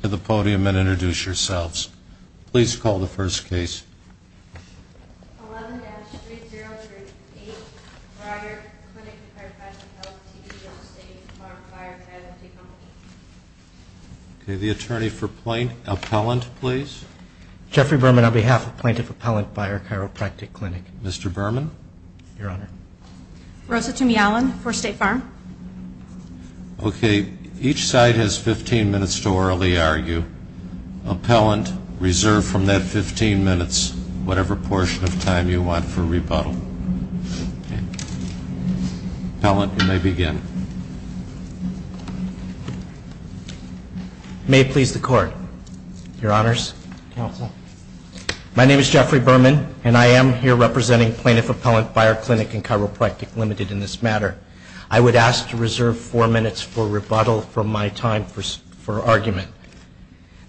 to the podium and introduce yourselves. Please call the first case. 11-3038 Byer Clinic & Chiropractic, Ltd. v. State Farm Fire & Chiropractic Company The attorney for Plaintiff Appellant, please. Jeffrey Berman, on behalf of Plaintiff Appellant, Byer Chiropractic Clinic. Mr. Berman? Your Honor. Rosa Tumialan, for State Farm. Okay. Each side has 15 minutes to orally argue. Appellant, reserve from that 15 minutes whatever portion of time you want for rebuttal. Okay. Appellant, you may begin. May it please the Court. Your Honors. Counsel. My name is Jeffrey Berman, and I am here representing Plaintiff Appellant, Byer Clinic & Chiropractic, Ltd. in this matter. I would ask to reserve four minutes for rebuttal from my time for argument.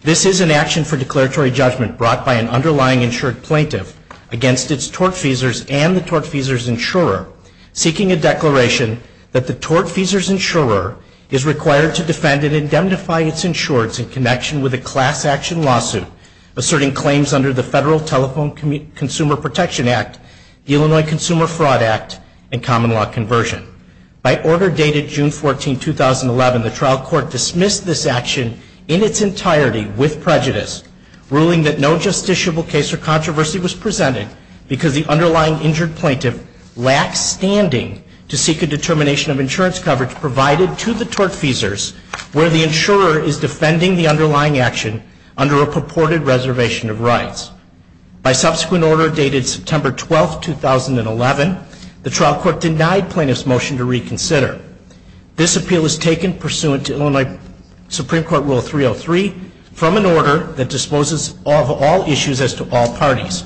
This is an action for declaratory judgment brought by an underlying insured plaintiff against its tortfeasors and the tortfeasors' insurer, seeking a declaration that the tortfeasors' insurer is required to defend and indemnify its insureds in connection with a class action lawsuit asserting claims under the Federal Telephone Consumer Protection Act, the Illinois Consumer Fraud Act, and common law conversion. By order dated June 14, 2011, the trial court dismissed this action in its entirety with prejudice, ruling that no justiciable case or controversy was presented because the underlying injured plaintiff lacks standing to seek a determination of insurance coverage provided to the tortfeasors where the insurer is defending the underlying action under a purported reservation of rights. By subsequent order dated September 12, 2011, the trial court denied plaintiff's motion to reconsider. This appeal was taken pursuant to Illinois Supreme Court Rule 303 from an order that disposes of all issues as to all parties.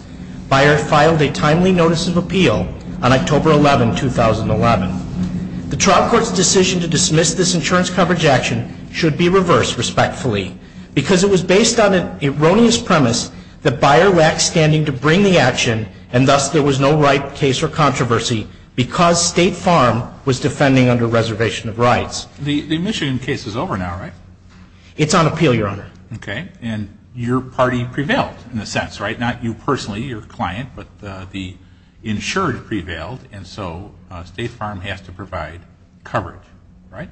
Byer filed a timely notice of appeal on October 11, 2011. The trial court's decision to dismiss this insurance coverage action should be reversed respectfully because it was based on an erroneous premise that Byer lacked standing to bring the action and thus there was no right case or controversy because State Farm was defending under reservation of rights. The Michigan case is over now, right? It's on appeal, Your Honor. Okay. And your party prevailed in a sense, right? Not you personally, your client, but the insured prevailed, and so State Farm has to provide coverage, right?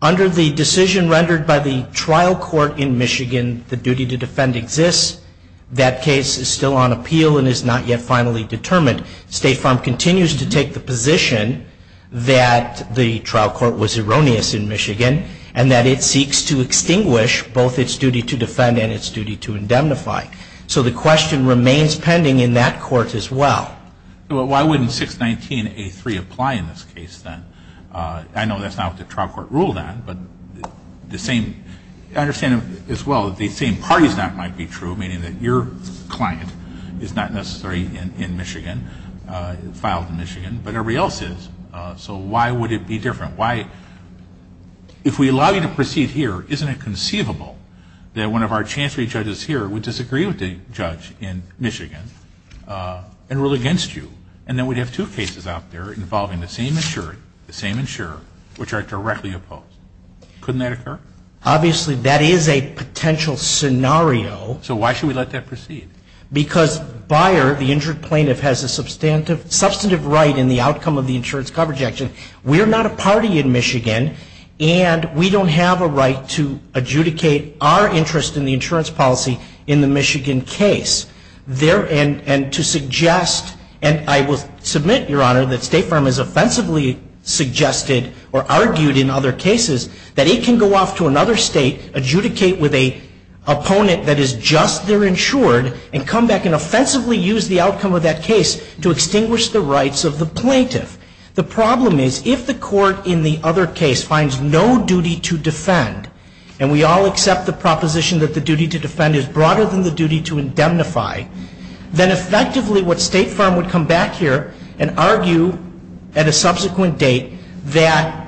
Under the decision rendered by the trial court in Michigan, the duty to defend exists. That case is still on appeal and is not yet finally determined. State Farm continues to take the position that the trial court was erroneous in Michigan and that it seeks to extinguish both its duty to defend and its duty to indemnify. So the question remains pending in that court as well. Why wouldn't 619A3 apply in this case then? I know that's not what the trial court ruled on, but I understand as well that the same party's act might be true, meaning that your client is not necessarily in Michigan, filed in Michigan, but everybody else is. So why would it be different? If we allow you to proceed here, isn't it conceivable that one of our chancery judges here would disagree with the judge in Michigan and rule against you? And then we'd have two cases out there involving the same insured, the same insurer, which are directly opposed. Couldn't that occur? Obviously, that is a potential scenario. So why should we let that proceed? Because Bayer, the injured plaintiff, has a substantive right in the outcome of the insurance coverage action. We are not a party in Michigan, and we don't have a right to adjudicate our interest in the insurance policy in the Michigan case. And to suggest, and I will submit, Your Honor, that State Farm has offensively suggested or argued in other cases that it can go off to another state, adjudicate with an opponent that is just their insured, and come back and offensively use the outcome of that case to extinguish the rights of the plaintiff. The problem is, if the court in the other case finds no duty to defend, and we all accept the proposition that the duty to defend is broader than the duty to indemnify, then effectively what State Farm would come back here and argue at a subsequent date that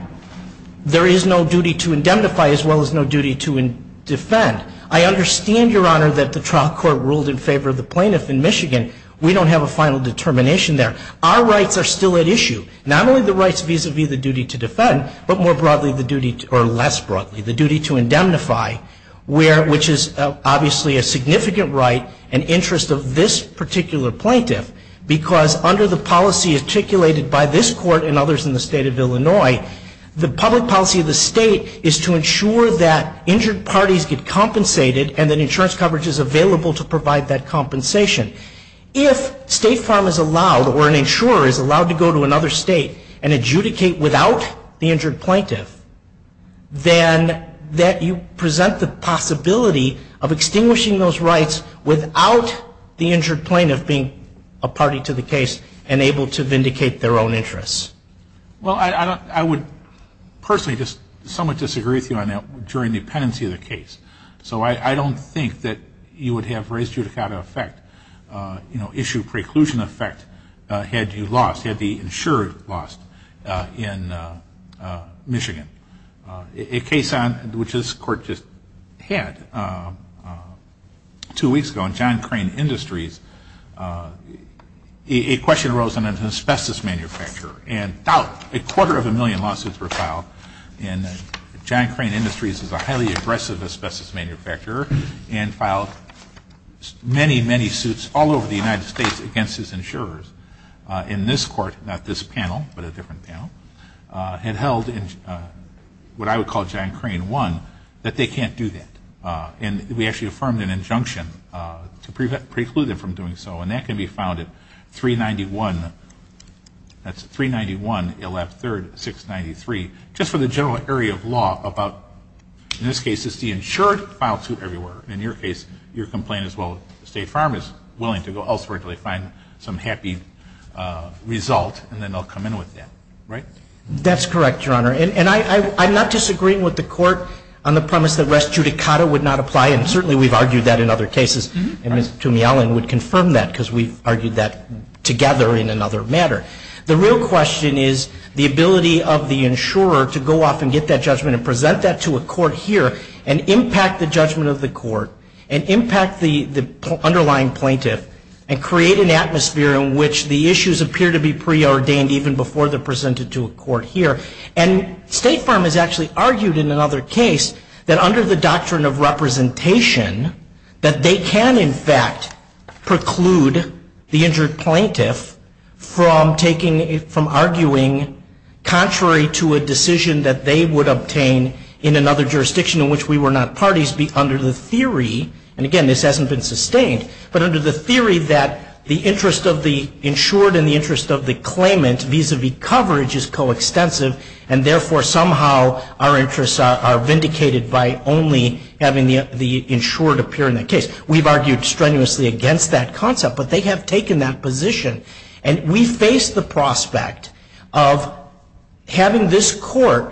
there is no duty to indemnify as well as no duty to defend. I understand, Your Honor, that the trial court ruled in favor of the plaintiff in Michigan. We don't have a final determination there. Our rights are still at issue, not only the rights vis-a-vis the duty to defend, but more broadly the duty, or less broadly, the duty to indemnify, which is obviously a significant right and interest of this particular plaintiff, because under the policy articulated by this Court and others in the State of Illinois, the public policy of the State is to ensure that injured parties get compensated and that insurance coverage is available to provide that compensation. If State Farm is allowed or an insurer is allowed to go to another state and adjudicate without the injured plaintiff, then that you present the possibility of extinguishing those rights without the injured plaintiff being a party to the case and able to vindicate their own interests. Well, I would personally just somewhat disagree with you on that during the pendency of the case. So I don't think that you would have race judicata effect, issue preclusion effect, had you lost, had the insurer lost in Michigan. A case which this Court just had two weeks ago in John Crane Industries, a question arose on an asbestos manufacturer, and about a quarter of a million lawsuits were filed, and John Crane Industries is a highly aggressive asbestos manufacturer and filed many, many suits all over the United States against his insurers. And this Court, not this panel, but a different panel, had held what I would call John Crane 1, that they can't do that. And we actually affirmed an injunction to preclude them from doing so, and that can be filed at 391, that's 391, 113, 693, just for the general area of law about, in this case, it's the insured filed suit everywhere. And in your case, your complaint is, well, State Farm is willing to go elsewhere until they find some happy result, and then they'll come in with that. Right? That's correct, Your Honor. And I'm not disagreeing with the Court on the premise that race judicata would not apply, and certainly we've argued that in other cases, and Ms. Toomey-Allen would confirm that because we've argued that together in another matter. The real question is the ability of the insurer to go off and get that judgment and present that to a court here, and impact the judgment of the court, and impact the underlying plaintiff, and create an atmosphere in which the issues appear to be preordained even before they're presented to a court here. And State Farm has actually argued in another case that under the doctrine of representation, that they can, in fact, preclude the injured plaintiff from taking, from arguing contrary to a decision that they would obtain in another jurisdiction in which we were not parties under the theory, and again, this hasn't been sustained, but under the theory that the interest of the insured and the interest of the claimant, vis-a-vis coverage, is coextensive, and therefore somehow our interests are vindicated by only having the insured appear in the case. We've argued strenuously against that concept, but they have taken that position, and we face the prospect of having this court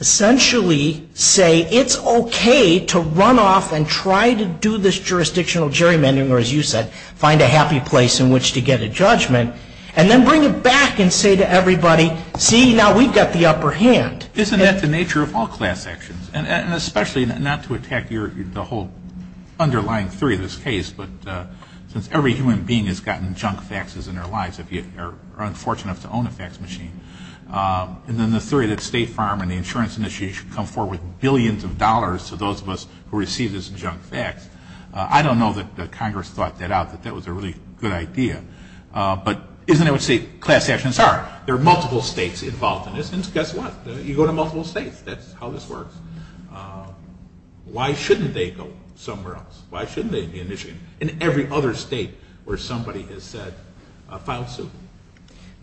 essentially say it's okay to run off and try to do this jurisdictional gerrymandering, or as you said, find a happy place in which to get a judgment, and then bring it back and say to everybody, see, now we've got the upper hand. Isn't that the nature of all class actions? And especially not to attack the whole underlying theory of this case, but since every human being has gotten junk faxes in their lives, if you are unfortunate enough to own a fax machine, and then the theory that State Farm and the insurance industry should come forward with billions of dollars to those of us who receive this junk fax, I don't know that Congress thought that out, that that was a really good idea, but isn't it what state class actions are? There are multiple states involved in this, and guess what? You go to multiple states. That's how this works. Why shouldn't they go somewhere else? Why shouldn't they be initiated in every other state where somebody has filed suit?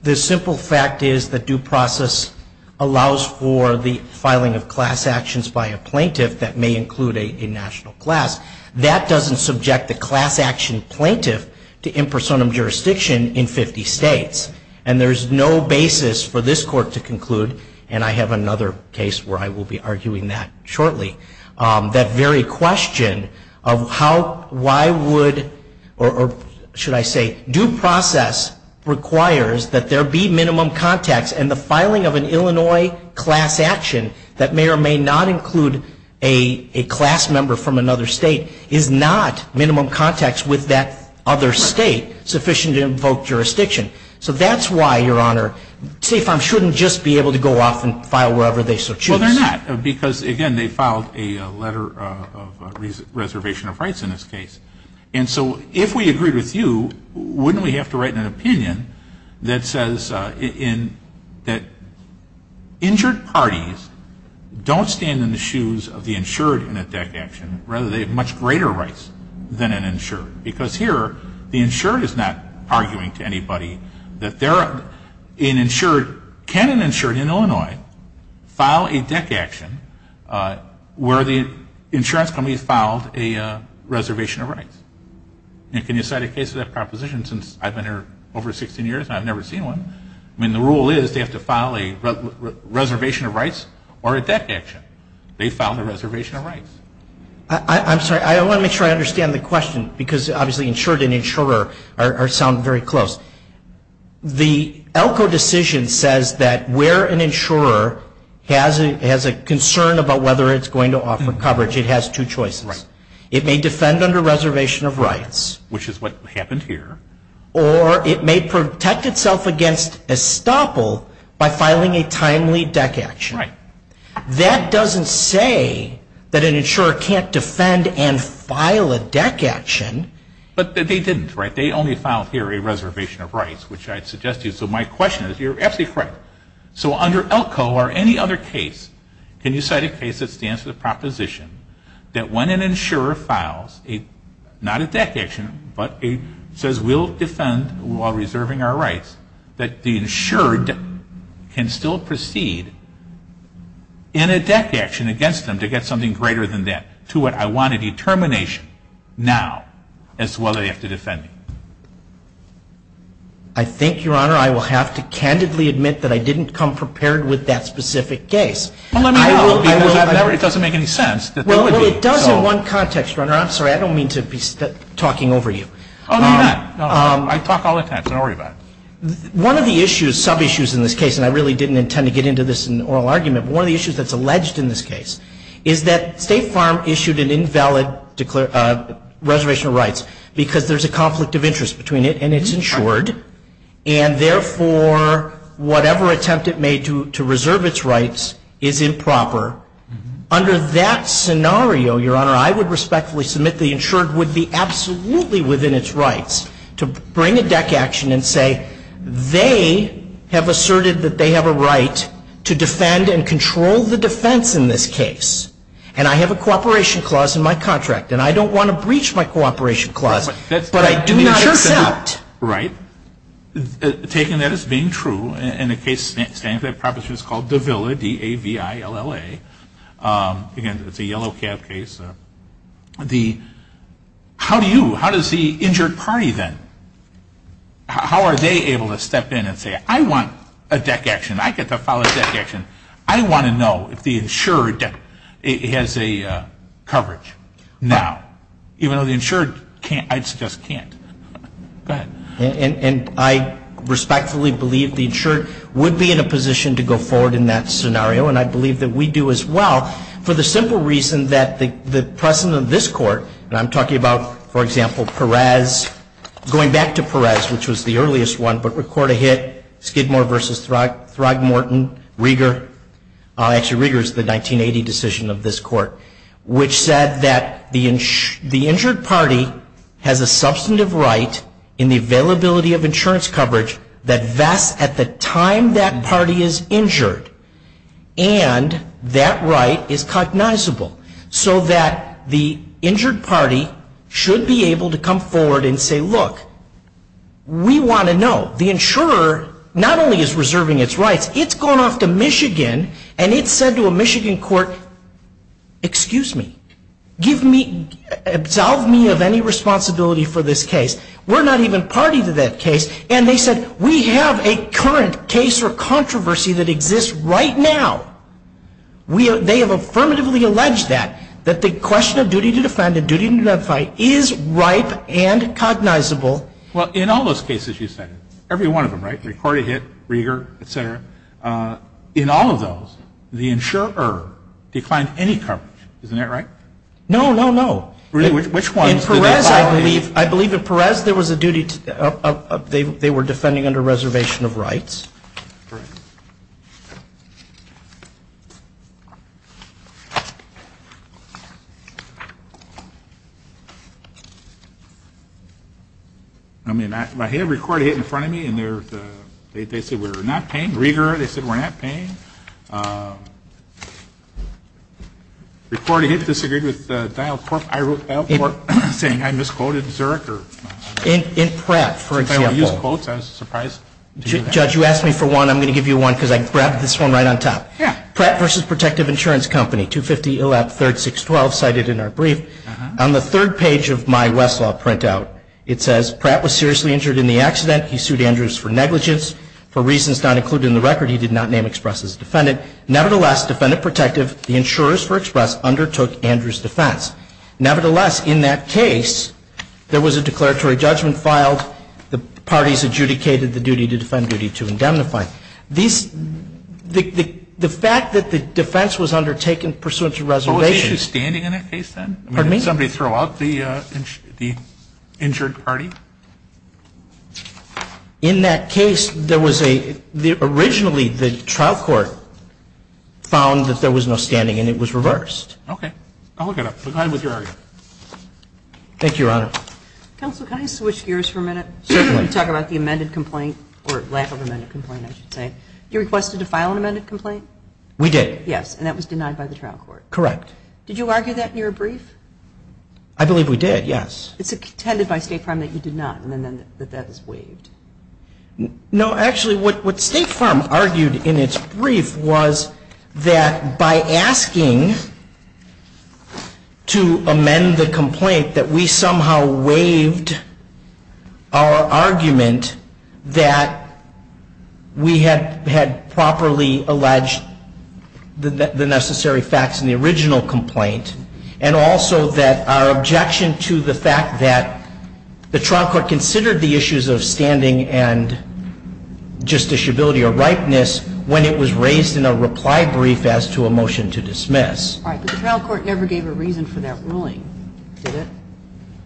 The simple fact is that due process allows for the filing of class actions by a plaintiff that may include a national class. That doesn't subject the class action plaintiff to impersonum jurisdiction in 50 states, and there's no basis for this court to conclude, and I have another case where I will be arguing that shortly. That very question of how, why would, or should I say, due process requires that there be minimum context, and the filing of an Illinois class action that may or may not include a class member from another state is not minimum context with that other state sufficient to invoke jurisdiction. So that's why, Your Honor, State Farm shouldn't just be able to go off and file wherever they so choose. Well, they're not, because, again, they filed a letter of reservation of rights in this case. And so if we agree with you, wouldn't we have to write an opinion that says that injured parties don't stand in the shoes of the insured in a DEC action, rather they have much greater rights than an insured, because here the insured is not arguing to anybody that they're an insured. Can an insured in Illinois file a DEC action where the insurance company filed a reservation of rights? And can you cite a case of that proposition since I've been here over 16 years and I've never seen one? I mean, the rule is they have to file a reservation of rights or a DEC action. They filed a reservation of rights. I'm sorry, I want to make sure I understand the question, because obviously insured and insurer sound very close. The ELCO decision says that where an insurer has a concern about whether it's going to offer coverage, it has two choices. It may defend under reservation of rights. Which is what happened here. Or it may protect itself against estoppel by filing a timely DEC action. That doesn't say that an insurer can't defend and file a DEC action. But they didn't, right? They only filed here a reservation of rights, which I'd suggest to you. So my question is, you're absolutely correct. So under ELCO or any other case, can you cite a case that stands for the proposition that when an insurer files, not a DEC action, but says we'll defend while reserving our rights, that the insured can still proceed in a DEC action against them to get something greater than that? To what I want a determination now as to whether they have to defend me. I think, Your Honor, I will have to candidly admit that I didn't come prepared with that specific case. Well, let me know, because it doesn't make any sense. Well, it does in one context, Your Honor. I'm sorry, I don't mean to be talking over you. Oh, no, you're not. I talk all the time, so don't worry about it. One of the issues, some issues in this case, and I really didn't intend to get into this in an oral argument, but one of the issues that's alleged in this case is that State Farm issued an invalid reservation of rights because there's a conflict of interest between it and its insured, and therefore, whatever attempt it made to reserve its rights is improper. Under that scenario, Your Honor, I would respectfully submit the insured would be absolutely within its rights to bring a deck action and say they have asserted that they have a right to defend and control the defense in this case, and I have a cooperation clause in my contract, and I don't want to breach my cooperation clause, but I do not accept. Right. Taking that as being true, and the case standing for that proposition is called Davila, D-A-V-I-L-A. Again, it's a yellow cap case. The, how do you, how does the insured party then, how are they able to step in and say I want a deck action, I get to file a deck action, I want to know if the insured has a coverage now, even though the insured can't, I'd suggest can't. Go ahead. And I respectfully believe the insured would be in a position to go forward in that scenario, and I believe that we do as well, for the simple reason that the precedent of this court, and I'm talking about, for example, Perez, going back to Perez, which was the earliest one, but record a hit, Skidmore v. Throgmorton, Rieger, actually Rieger is the 1980 decision of this court, which said that the insured party has a substantive right in the availability of insurance coverage that vests at the time that party is injured, and that right is cognizable, so that the injured party should be able to come forward and say, look, we want to know. The insurer not only is reserving its rights, it's going off to Michigan, and it said to a Michigan court, excuse me, give me, absolve me of any responsibility for this case. We're not even party to that case. And they said, we have a current case or controversy that exists right now. They have affirmatively alleged that, that the question of duty to defend and duty to identify is ripe and cognizable. Well, in all those cases you said, every one of them, right, record a hit, Rieger, et cetera, in all of those, the insurer declined any coverage. Isn't that right? No, no, no. Really, which ones? Perez, I believe. I believe that Perez, there was a duty, they were defending under reservation of rights. Correct. I mean, record a hit in front of me, and they said we're not paying. Rieger, they said we're not paying. Record a hit, disagreed with, I misquoted Zurich. In Pratt, for example. Since I only use quotes, I was surprised. Judge, you asked me for one, I'm going to give you one, because I grabbed this one right on top. Yeah. Pratt versus Protective Insurance Company, 250 Illap 3rd 612, cited in our brief. On the third page of my Westlaw printout, it says, Pratt was seriously injured in the accident. He sued Andrews for negligence. For reasons not included in the record, he did not name Express as a defendant. Nevertheless, Defendant Protective, the insurers for Express, undertook Andrews' defense. Nevertheless, in that case, there was a declaratory judgment filed. The parties adjudicated the duty to defend, duty to indemnify. These, the fact that the defense was undertaken pursuant to reservation. Oh, was Andrews standing in that case then? Pardon me? Did somebody throw out the injured party? In that case, there was a, originally the trial court found that there was no standing and it was reversed. Okay. I'll look it up. I'm glad with your argument. Thank you, Your Honor. Counsel, can I switch gears for a minute? Certainly. You talk about the amended complaint, or lack of amended complaint, I should say. You requested to file an amended complaint? We did. Yes. And that was denied by the trial court. Correct. Did you argue that in your brief? I believe we did, yes. It's intended by State Farm that you did not, and then that that is waived. No, actually, what State Farm argued in its brief was that by asking to amend the complaint that we somehow waived our argument that we had properly alleged the necessary facts in the original complaint, and also that our objection to the fact that the trial court considered the issues of standing and justiciability or ripeness when it was raised in a reply brief as to a motion to dismiss. All right. But the trial court never gave a reason for that ruling, did it?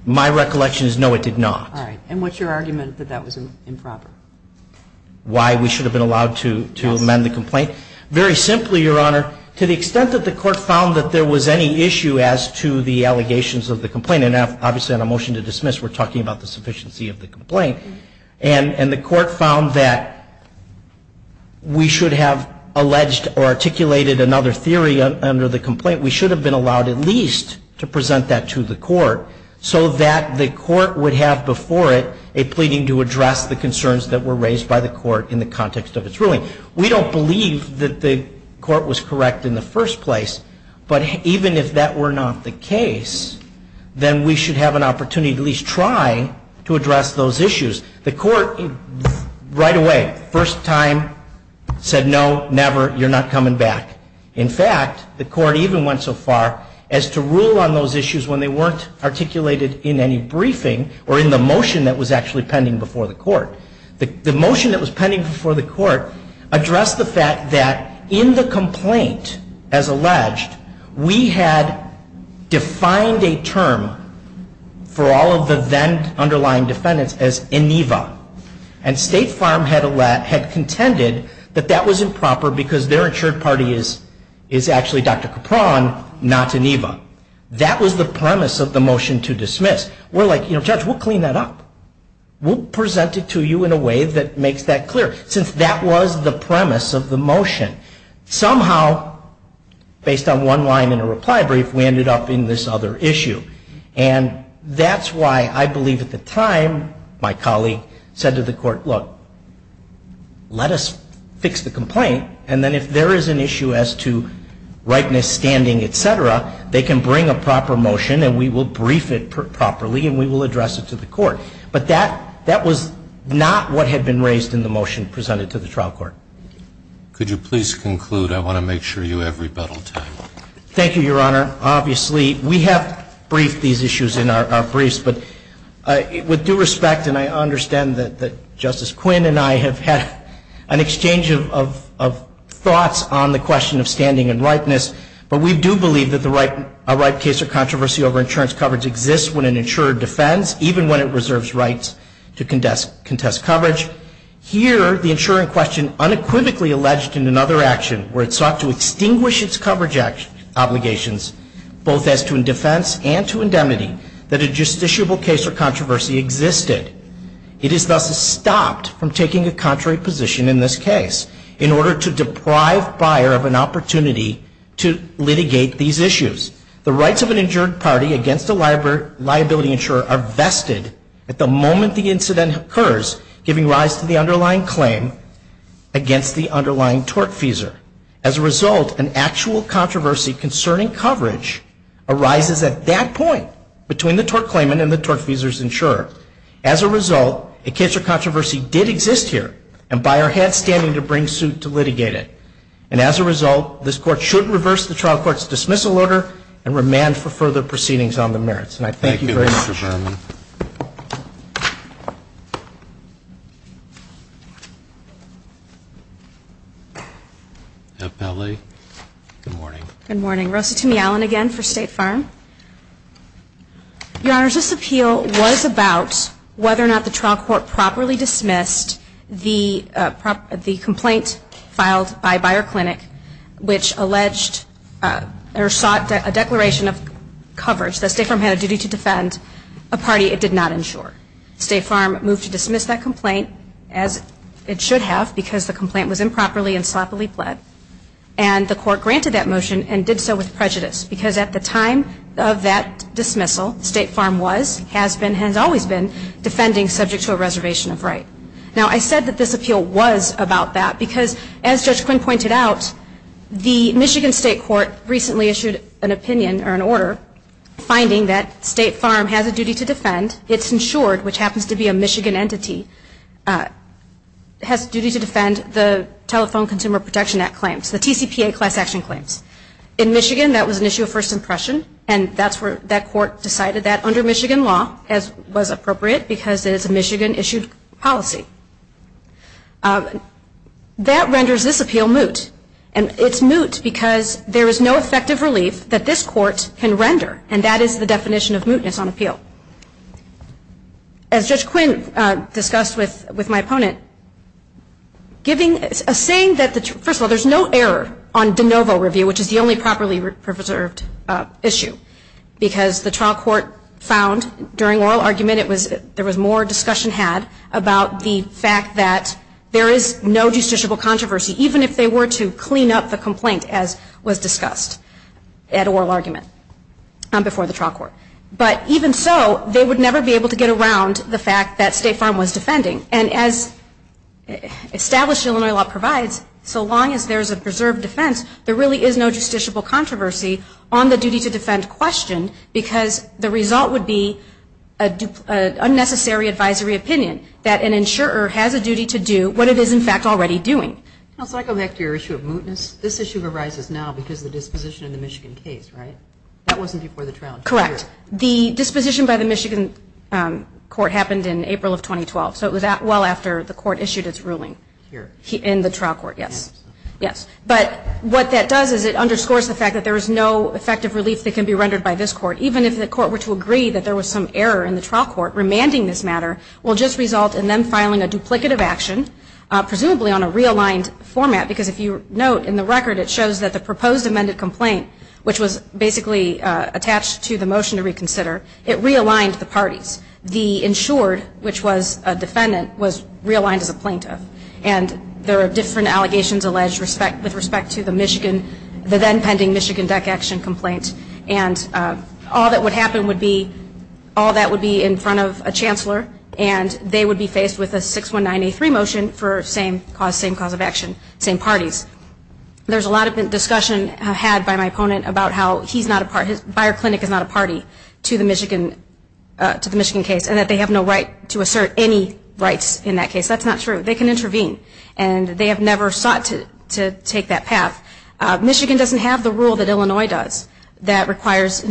My recollection is no, it did not. All right. And what's your argument that that was improper? Why we should have been allowed to amend the complaint? How so? Well, first of all, Your Honor, to the extent that the court found that there was any issue as to the allegations of the complaint, and obviously on a motion to dismiss we're talking about the sufficiency of the complaint, and the court found that we should have alleged or articulated another theory under the complaint, we should have been allowed at least to present that to the court so that the court would have before it a pleading to address the concerns that were raised by the court in the context of its ruling. We don't believe that the court was correct in the first place, but even if that were not the case, then we should have an opportunity to at least try to address those issues. The court right away, first time, said no, never, you're not coming back. In fact, the court even went so far as to rule on those issues when they weren't articulated in any briefing or in the motion that was actually pending before the court. The motion that was pending before the court addressed the fact that in the complaint, as alleged, we had defined a term for all of the then underlying defendants as INEVA, and State Farm had contended that that was improper because their insured party is actually Dr. Capron, not INEVA. That was the premise of the motion to dismiss. We're like, Judge, we'll clean that up. We'll present it to you in a way that makes that clear, since that was the premise of the motion. Somehow, based on one line in a reply brief, we ended up in this other issue. And that's why I believe at the time my colleague said to the court, look, let us fix the complaint, and then if there is an issue as to rightness, standing, et cetera, they can bring a proper motion and we will brief it properly and we will address it to the court. But that was not what had been raised in the motion presented to the trial court. Could you please conclude? I want to make sure you have rebuttal time. Thank you, Your Honor. Obviously, we have briefed these issues in our briefs, but with due respect, and I understand that Justice Quinn and I have had an exchange of thoughts on the question of standing and rightness, but we do believe that a right case or controversy over insurance coverage exists when an insurer defends, even when it reserves rights to contest coverage. Here, the insurer in question unequivocally alleged in another action, where it sought to extinguish its coverage obligations, both as to defense and to indemnity, that a justiciable case or controversy existed. It is thus stopped from taking a contrary position in this case, in order to deprive buyer of an opportunity to litigate these issues. The rights of an injured party against a liability insurer are vested at the moment the incident occurs, giving rise to the underlying claim against the underlying tortfeasor. As a result, an actual controversy concerning coverage arises at that point, As a result, a case or controversy did exist here, and buyer had standing to bring suit to litigate it. And as a result, this Court should reverse the trial court's dismissal order, and remand for further proceedings on the merits. And I thank you very much. Thank you, Mr. Berman. Good morning. Good morning. Rosa Tumey-Allen again for State Farm. Your Honors, this appeal was about whether or not the trial court properly dismissed the complaint filed by Buyer Clinic, which alleged or sought a declaration of coverage that State Farm had a duty to defend a party it did not insure. State Farm moved to dismiss that complaint, as it should have, because the complaint was improperly and sloppily pled. And the Court granted that motion and did so with prejudice, because at the time of that dismissal, State Farm was, has been, has always been defending subject to a reservation of right. Now, I said that this appeal was about that because, as Judge Quinn pointed out, the Michigan State Court recently issued an opinion or an order finding that State Farm has a duty to defend its insured, which happens to be a Michigan entity, has a duty to defend the Telephone Consumer Protection Act claims, the TCPA class action claims. In Michigan, that was an issue of first impression, and that's where, that court decided that under Michigan law, as was appropriate, because it is a Michigan issued policy. That renders this appeal moot. And it's moot because there is no effective relief that this court can render, and that is the definition of mootness on appeal. As Judge Quinn discussed with, with my opponent, giving, saying that the, first of all, there's no error on de novo review, which is the only properly preserved issue, because the trial court found during oral argument it was, there was more discussion had about the fact that there is no justiciable controversy, even if they were to clean up the complaint as was discussed at oral argument before the trial court. But even so, they would never be able to get around the fact that State Farm was defending. And as established Illinois law provides, so long as there's a preserved defense, there really is no justiciable controversy on the duty to defend question, because the result would be an unnecessary advisory opinion, that an insurer has a duty to do what it is, in fact, already doing. Can I go back to your issue of mootness? This issue arises now because of the disposition of the Michigan case, right? That wasn't before the trial. Correct. The disposition by the Michigan court happened in April of 2012. So it was well after the court issued its ruling. Here. In the trial court, yes. Yes. But what that does is it underscores the fact that there is no effective relief that can be rendered by this court, even if the court were to agree that there was some error in the trial court remanding this matter, will just result in them filing a duplicative action, presumably on a realigned format, because if you note in the record, it shows that the proposed amended complaint, which was basically attached to the motion to reconsider, it realigned the parties. The insured, which was a defendant, was realigned as a plaintiff. And there are different allegations alleged with respect to the Michigan, the then pending Michigan DEC action complaint. And all that would happen would be, all that would be in front of a chancellor, and they would be faced with a 619A3 motion for same cause, same cause of action, same parties. There's a lot of discussion had by my opponent about how he's not a party, that Bayer Clinic is not a party to the Michigan case, and that they have no right to assert any rights in that case. That's not true. They can intervene. And they have never sought to take that path. Michigan doesn't have the rule that Illinois does that requires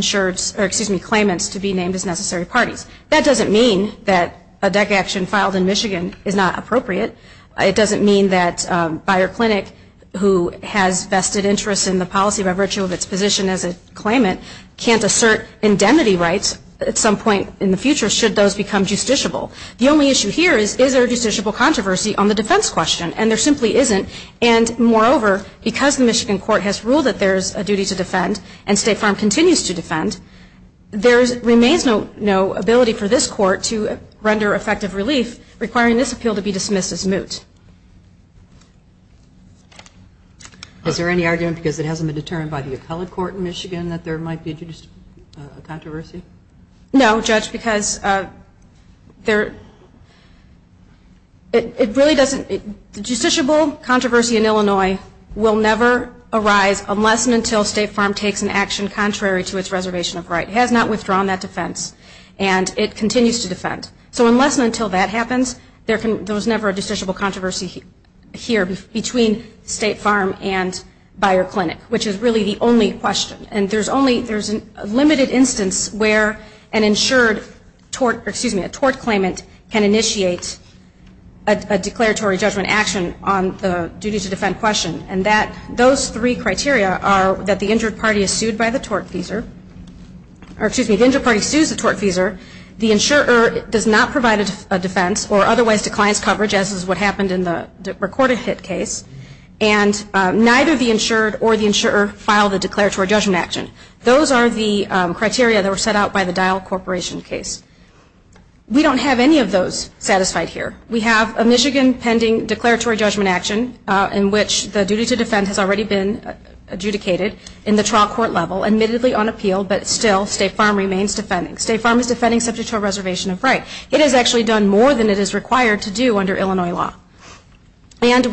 claimants to be named as necessary parties. That doesn't mean that a DEC action filed in Michigan is not appropriate. It doesn't mean that Bayer Clinic, who has vested interests in the policy by virtue of its position as a claimant, can't assert indemnity rights at some point in the future should those become justiciable. The only issue here is, is there a justiciable controversy on the defense question? And there simply isn't. And moreover, because the Michigan court has ruled that there is a duty to defend, and State Farm continues to defend, there remains no ability for this court to render effective relief, requiring this appeal to be dismissed as moot. Is there any argument because it hasn't been determined by the appellate court in Michigan that there might be a controversy? No, Judge, because it really doesn't. The justiciable controversy in Illinois will never arise unless and until State Farm takes an action contrary to its reservation of right. It has not withdrawn that defense. And it continues to defend. So unless and until that happens, there was never a justiciable controversy here between State Farm and Bayer Clinic, which is really the only question. And there's a limited instance where an insured tort, excuse me, a tort claimant can initiate a declaratory judgment action on the duty to defend question. And those three criteria are that the injured party is sued by the tort feeser, or excuse me, the injured party sues the tort feeser, the insurer does not provide a defense or otherwise declines coverage, as is what happened in the recorded hit case, and neither the insured or the insurer filed a declaratory judgment action. Those are the criteria that were set out by the Dial Corporation case. We don't have any of those satisfied here. We have a Michigan pending declaratory judgment action in which the duty to defend has already been adjudicated in the trial court level, admittedly unappealed, but still State Farm remains defending. State Farm is defending subject to a reservation of right. It has actually done more than it is required to do under Illinois law. And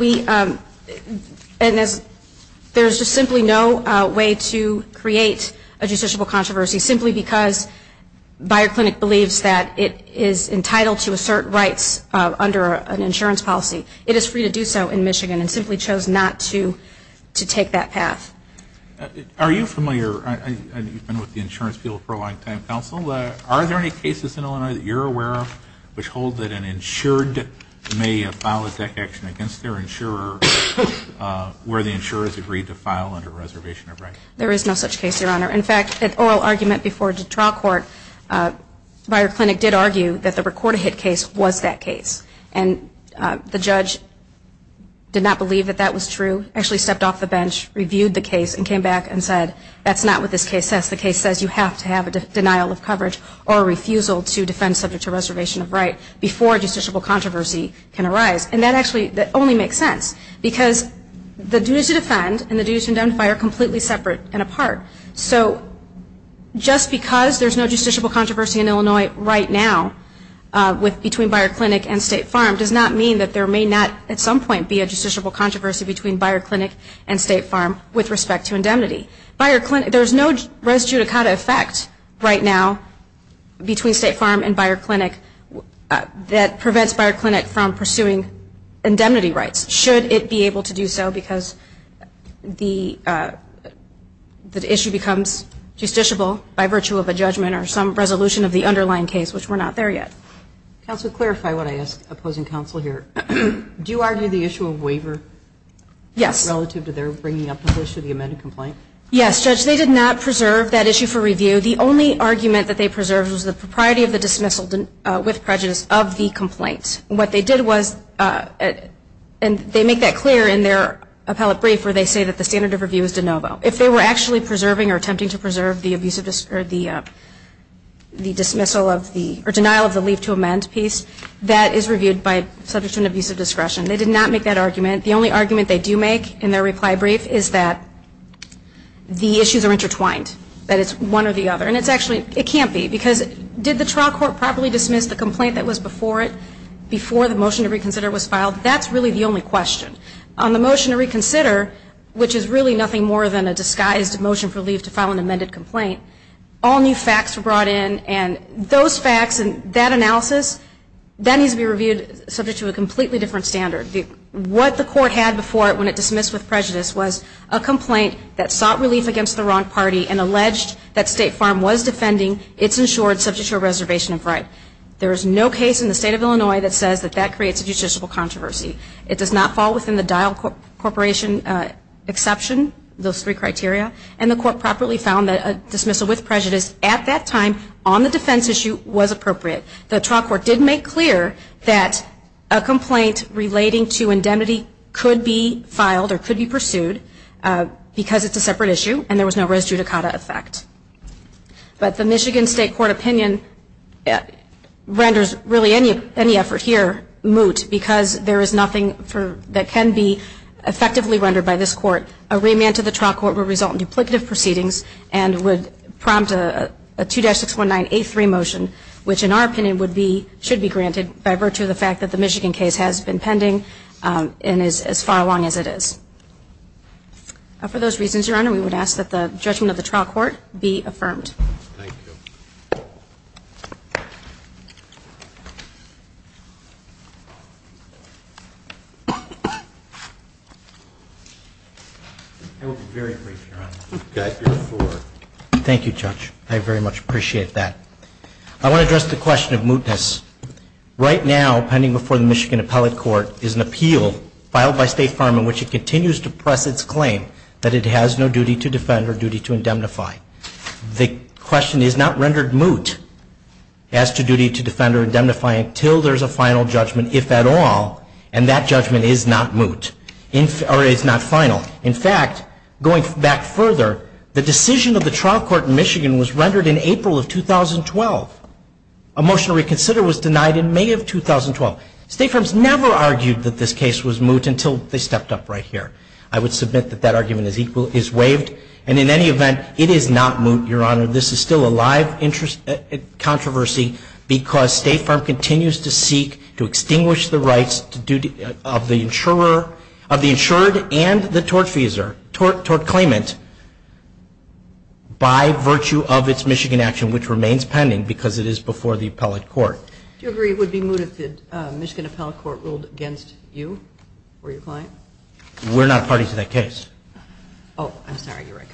there's just simply no way to create a justiciable controversy simply because Bayer Clinic believes that it is entitled to assert rights under an insurance policy. It is free to do so in Michigan and simply chose not to take that path. Are you familiar? You've been with the insurance field for a long time. Counsel, are there any cases in Illinois that you're aware of which hold that an insured may file a deck action against their insurer where the insurer has agreed to file under a reservation of right? There is no such case, Your Honor. In fact, an oral argument before the trial court, Bayer Clinic did argue that the recorded hit case was that case. And the judge did not believe that that was true, actually stepped off the bench, reviewed the case, and came back and said, that's not what this case says. The case says you have to have a denial of coverage or a refusal to defend subject to reservation of right before a justiciable controversy can arise. And that actually only makes sense because the duties to defend and the duties to indemnify are completely separate and apart. So just because there's no justiciable controversy in Illinois right now between Bayer Clinic and State Farm does not mean that there may not at some point be a justiciable controversy between Bayer Clinic and State Farm with respect to indemnity. There's no res judicata effect right now between State Farm and Bayer Clinic that prevents Bayer Clinic from pursuing indemnity rights, should it be able to do so because the issue becomes justiciable by virtue of a judgment or some resolution of the underlying case, which we're not there yet. Counsel, clarify what I ask opposing counsel here. Do you argue the issue of waiver relative to their bringing up the issue of the amended complaint? Yes, Judge. They did not preserve that issue for review. The only argument that they preserved was the propriety of the dismissal with prejudice of the complaint. What they did was, and they make that clear in their appellate brief where they say that the standard of review is de novo. If they were actually preserving or attempting to preserve the denial of the leave to amend piece, that is reviewed by subject to an abuse of discretion. They did not make that argument. The only argument they do make in their reply brief is that the issues are intertwined, that it's one or the other, and it's actually, it can't be, because did the trial court properly dismiss the complaint that was before it, before the motion to reconsider was filed? That's really the only question. On the motion to reconsider, which is really nothing more than a disguised motion for leave to file an amended complaint, all new facts were brought in, and those facts and that analysis, that needs to be reviewed subject to a completely different standard. What the court had before it when it dismissed with prejudice was a complaint that sought relief against the wrong party and alleged that State Farm was defending its insured subject to a reservation of right. There is no case in the state of Illinois that says that that creates a justiciable controversy. It does not fall within the Dial Corporation exception, those three criteria, and the court properly found that a dismissal with prejudice at that time on the defense issue was appropriate. The trial court did make clear that a complaint relating to indemnity could be filed or could be pursued because it's a separate issue and there was no res judicata effect. But the Michigan State Court opinion renders really any effort here moot because there is nothing that can be effectively rendered by this court. A remand to the trial court will result in duplicative proceedings and would prompt a 2-619-A3 motion, which in our opinion should be granted by virtue of the fact that the Michigan case has been pending and is as far along as it is. For those reasons, Your Honor, we would ask that the judgment of the trial court be affirmed. Thank you. I will be very brief, Your Honor. Thank you, Judge. I very much appreciate that. I want to address the question of mootness. Right now, pending before the Michigan Appellate Court, is an appeal filed by State Farm in which it continues to press its claim that it has no duty to defend or duty to indemnify. The question is not rendered moot as to duty to defend or indemnify until there is a final judgment, if at all, and that judgment is not moot or is not final. In fact, going back further, the decision of the trial court in Michigan was rendered in April of 2012. A motion to reconsider was denied in May of 2012. State Farms never argued that this case was moot until they stepped up right here. I would submit that that argument is waived, and in any event, it is not moot, Your Honor. This is still a live controversy because State Farm continues to seek to extinguish the rights of the insured and the tort claimant by virtue of its Michigan action, which remains pending because it is before the appellate court. Do you agree it would be moot if the Michigan Appellate Court ruled against you or your client? We're not a party to that case. Oh, I'm sorry. You're right.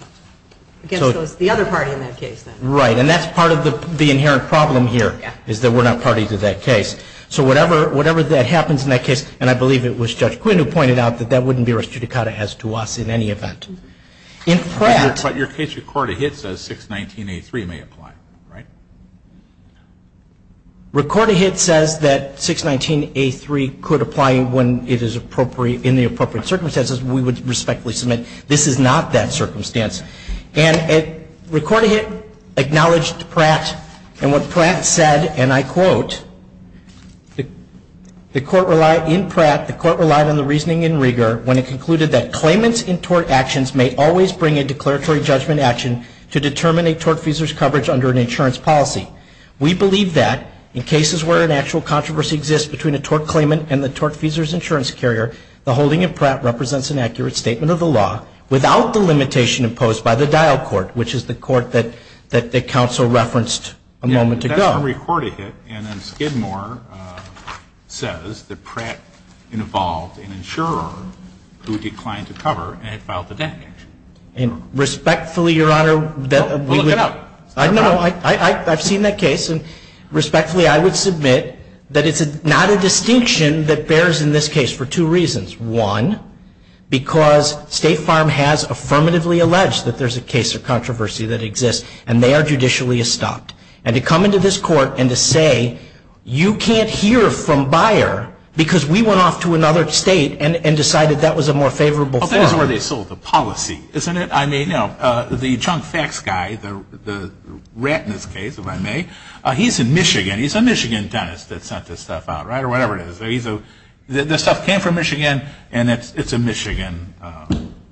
Against the other party in that case, then. Right. And that's part of the inherent problem here is that we're not party to that case. So whatever that happens in that case, and I believe it was Judge Quinn who pointed out that that wouldn't be res judicata as to us in any event. But your case record of hit says 619A3 may apply, right? Record of hit says that 619A3 could apply when it is in the appropriate circumstances. We would respectfully submit this is not that circumstance. And record of hit acknowledged Pratt. And what Pratt said, and I quote, the court relied in Pratt, the court relied on the reasoning and rigor when it concluded that claimants in tort actions may always bring a declaratory judgment action to determine a tortfeasor's coverage under an insurance policy. We believe that in cases where an actual controversy exists between a tort claimant and the tortfeasor's insurance carrier, the holding of Pratt represents an accurate statement of the law without the limitation imposed by the dial court, which is the court that the counsel referenced a moment ago. That's on record of hit. And Skidmore says that Pratt involved an insurer who declined to cover and had filed a debt claim. And respectfully, Your Honor, that we would. Well, look it up. I know. I've seen that case. And respectfully, I would submit that it's not a distinction that bears in this case for two reasons. One, because State Farm has affirmatively alleged that there's a case of controversy that exists, and they are judicially estopped. And to come into this court and to say you can't hear from Bayer because we went off to another state and decided that was a more favorable form. Well, that is where they sold the policy, isn't it? I mean, you know, the Chunk Facts guy, the rat in this case, if I may, he's in Michigan. He's a Michigan dentist that sent this stuff out, right, or whatever it is. The stuff came from Michigan, and it's a Michigan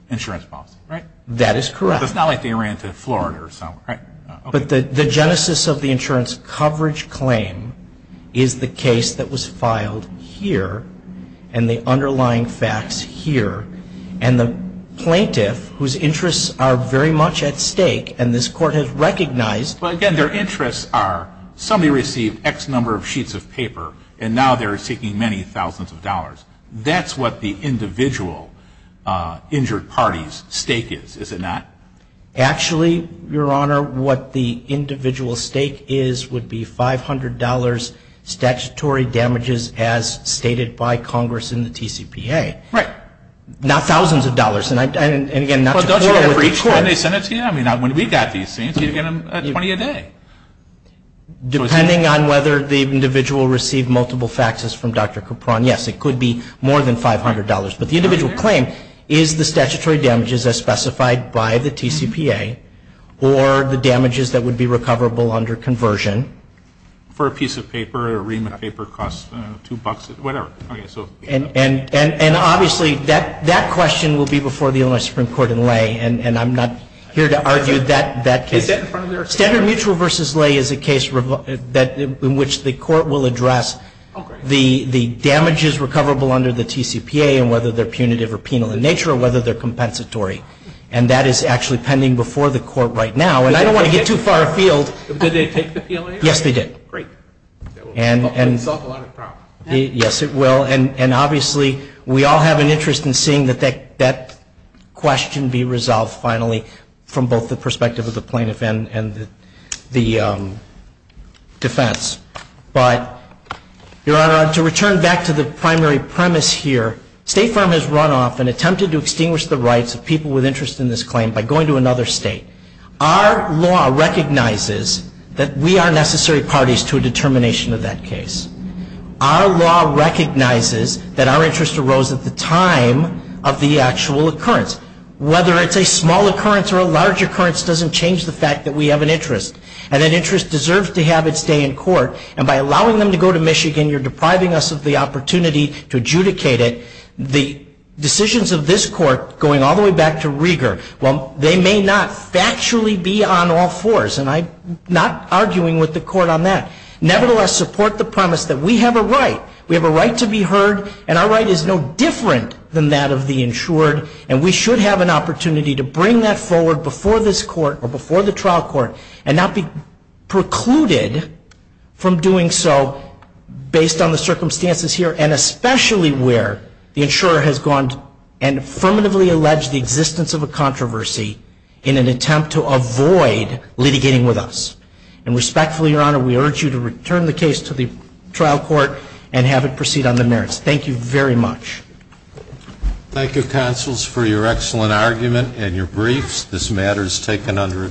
insurance policy, right? That is correct. It's not like they ran to Florida or somewhere, right? But the genesis of the insurance coverage claim is the case that was filed here and the underlying facts here. And the plaintiff, whose interests are very much at stake, and this Court has recognized. Well, again, their interests are somebody received X number of sheets of paper, and now they're seeking many thousands of dollars. That's what the individual injured party's stake is, is it not? Actually, Your Honor, what the individual stake is would be $500 statutory damages as stated by Congress in the TCPA. Right. Not thousands of dollars. And again, not to quarrel with the Court. Well, don't you get it for each time they send it to you? I mean, when we got these things, you'd get them at 20 a day. Depending on whether the individual received multiple faxes from Dr. Capron, yes, it could be more than $500. But the individual claim is the statutory damages as specified by the TCPA or the damages that would be recoverable under conversion. For a piece of paper, a ream of paper costs $2, whatever. And obviously, that question will be before the Illinois Supreme Court in Lay, and I'm not here to argue that case. Is that in front of their? Standard Mutual v. Lay is a case in which the Court will address the damages recoverable under the TCPA, and whether they're punitive or penal in nature, or whether they're compensatory. And that is actually pending before the Court right now. And I don't want to get too far afield. Did they take the PLA? Yes, they did. Great. That would solve a lot of problems. Yes, it will. And obviously, we all have an interest in seeing that that question be resolved, finally, from both the perspective of the plaintiff and the defense. But, Your Honor, to return back to the primary premise here, State Farm has run off and attempted to extinguish the rights of people with interest in this claim by going to another state. Our law recognizes that we are necessary parties to a determination of that case. Our law recognizes that our interest arose at the time of the actual occurrence. Whether it's a small occurrence or a large occurrence doesn't change the fact that we have an interest. And an interest deserves to have its day in court. And by allowing them to go to Michigan, you're depriving us of the opportunity to adjudicate it. The decisions of this Court, going all the way back to Rieger, well, they may not factually be on all fours. And I'm not arguing with the Court on that. Nevertheless, support the premise that we have a right. We have a right to be heard. And our right is no different than that of the insured. And we should have an opportunity to bring that forward before this Court or before the trial court and not be precluded from doing so based on the circumstances here and especially where the insurer has gone and affirmatively alleged the existence of a controversy in an attempt to avoid litigating with us. And respectfully, Your Honor, we urge you to return the case to the trial court and have it proceed on the merits. Thank you very much. Thank you, counsels, for your excellent argument and your briefs. This matter is taken under advisement.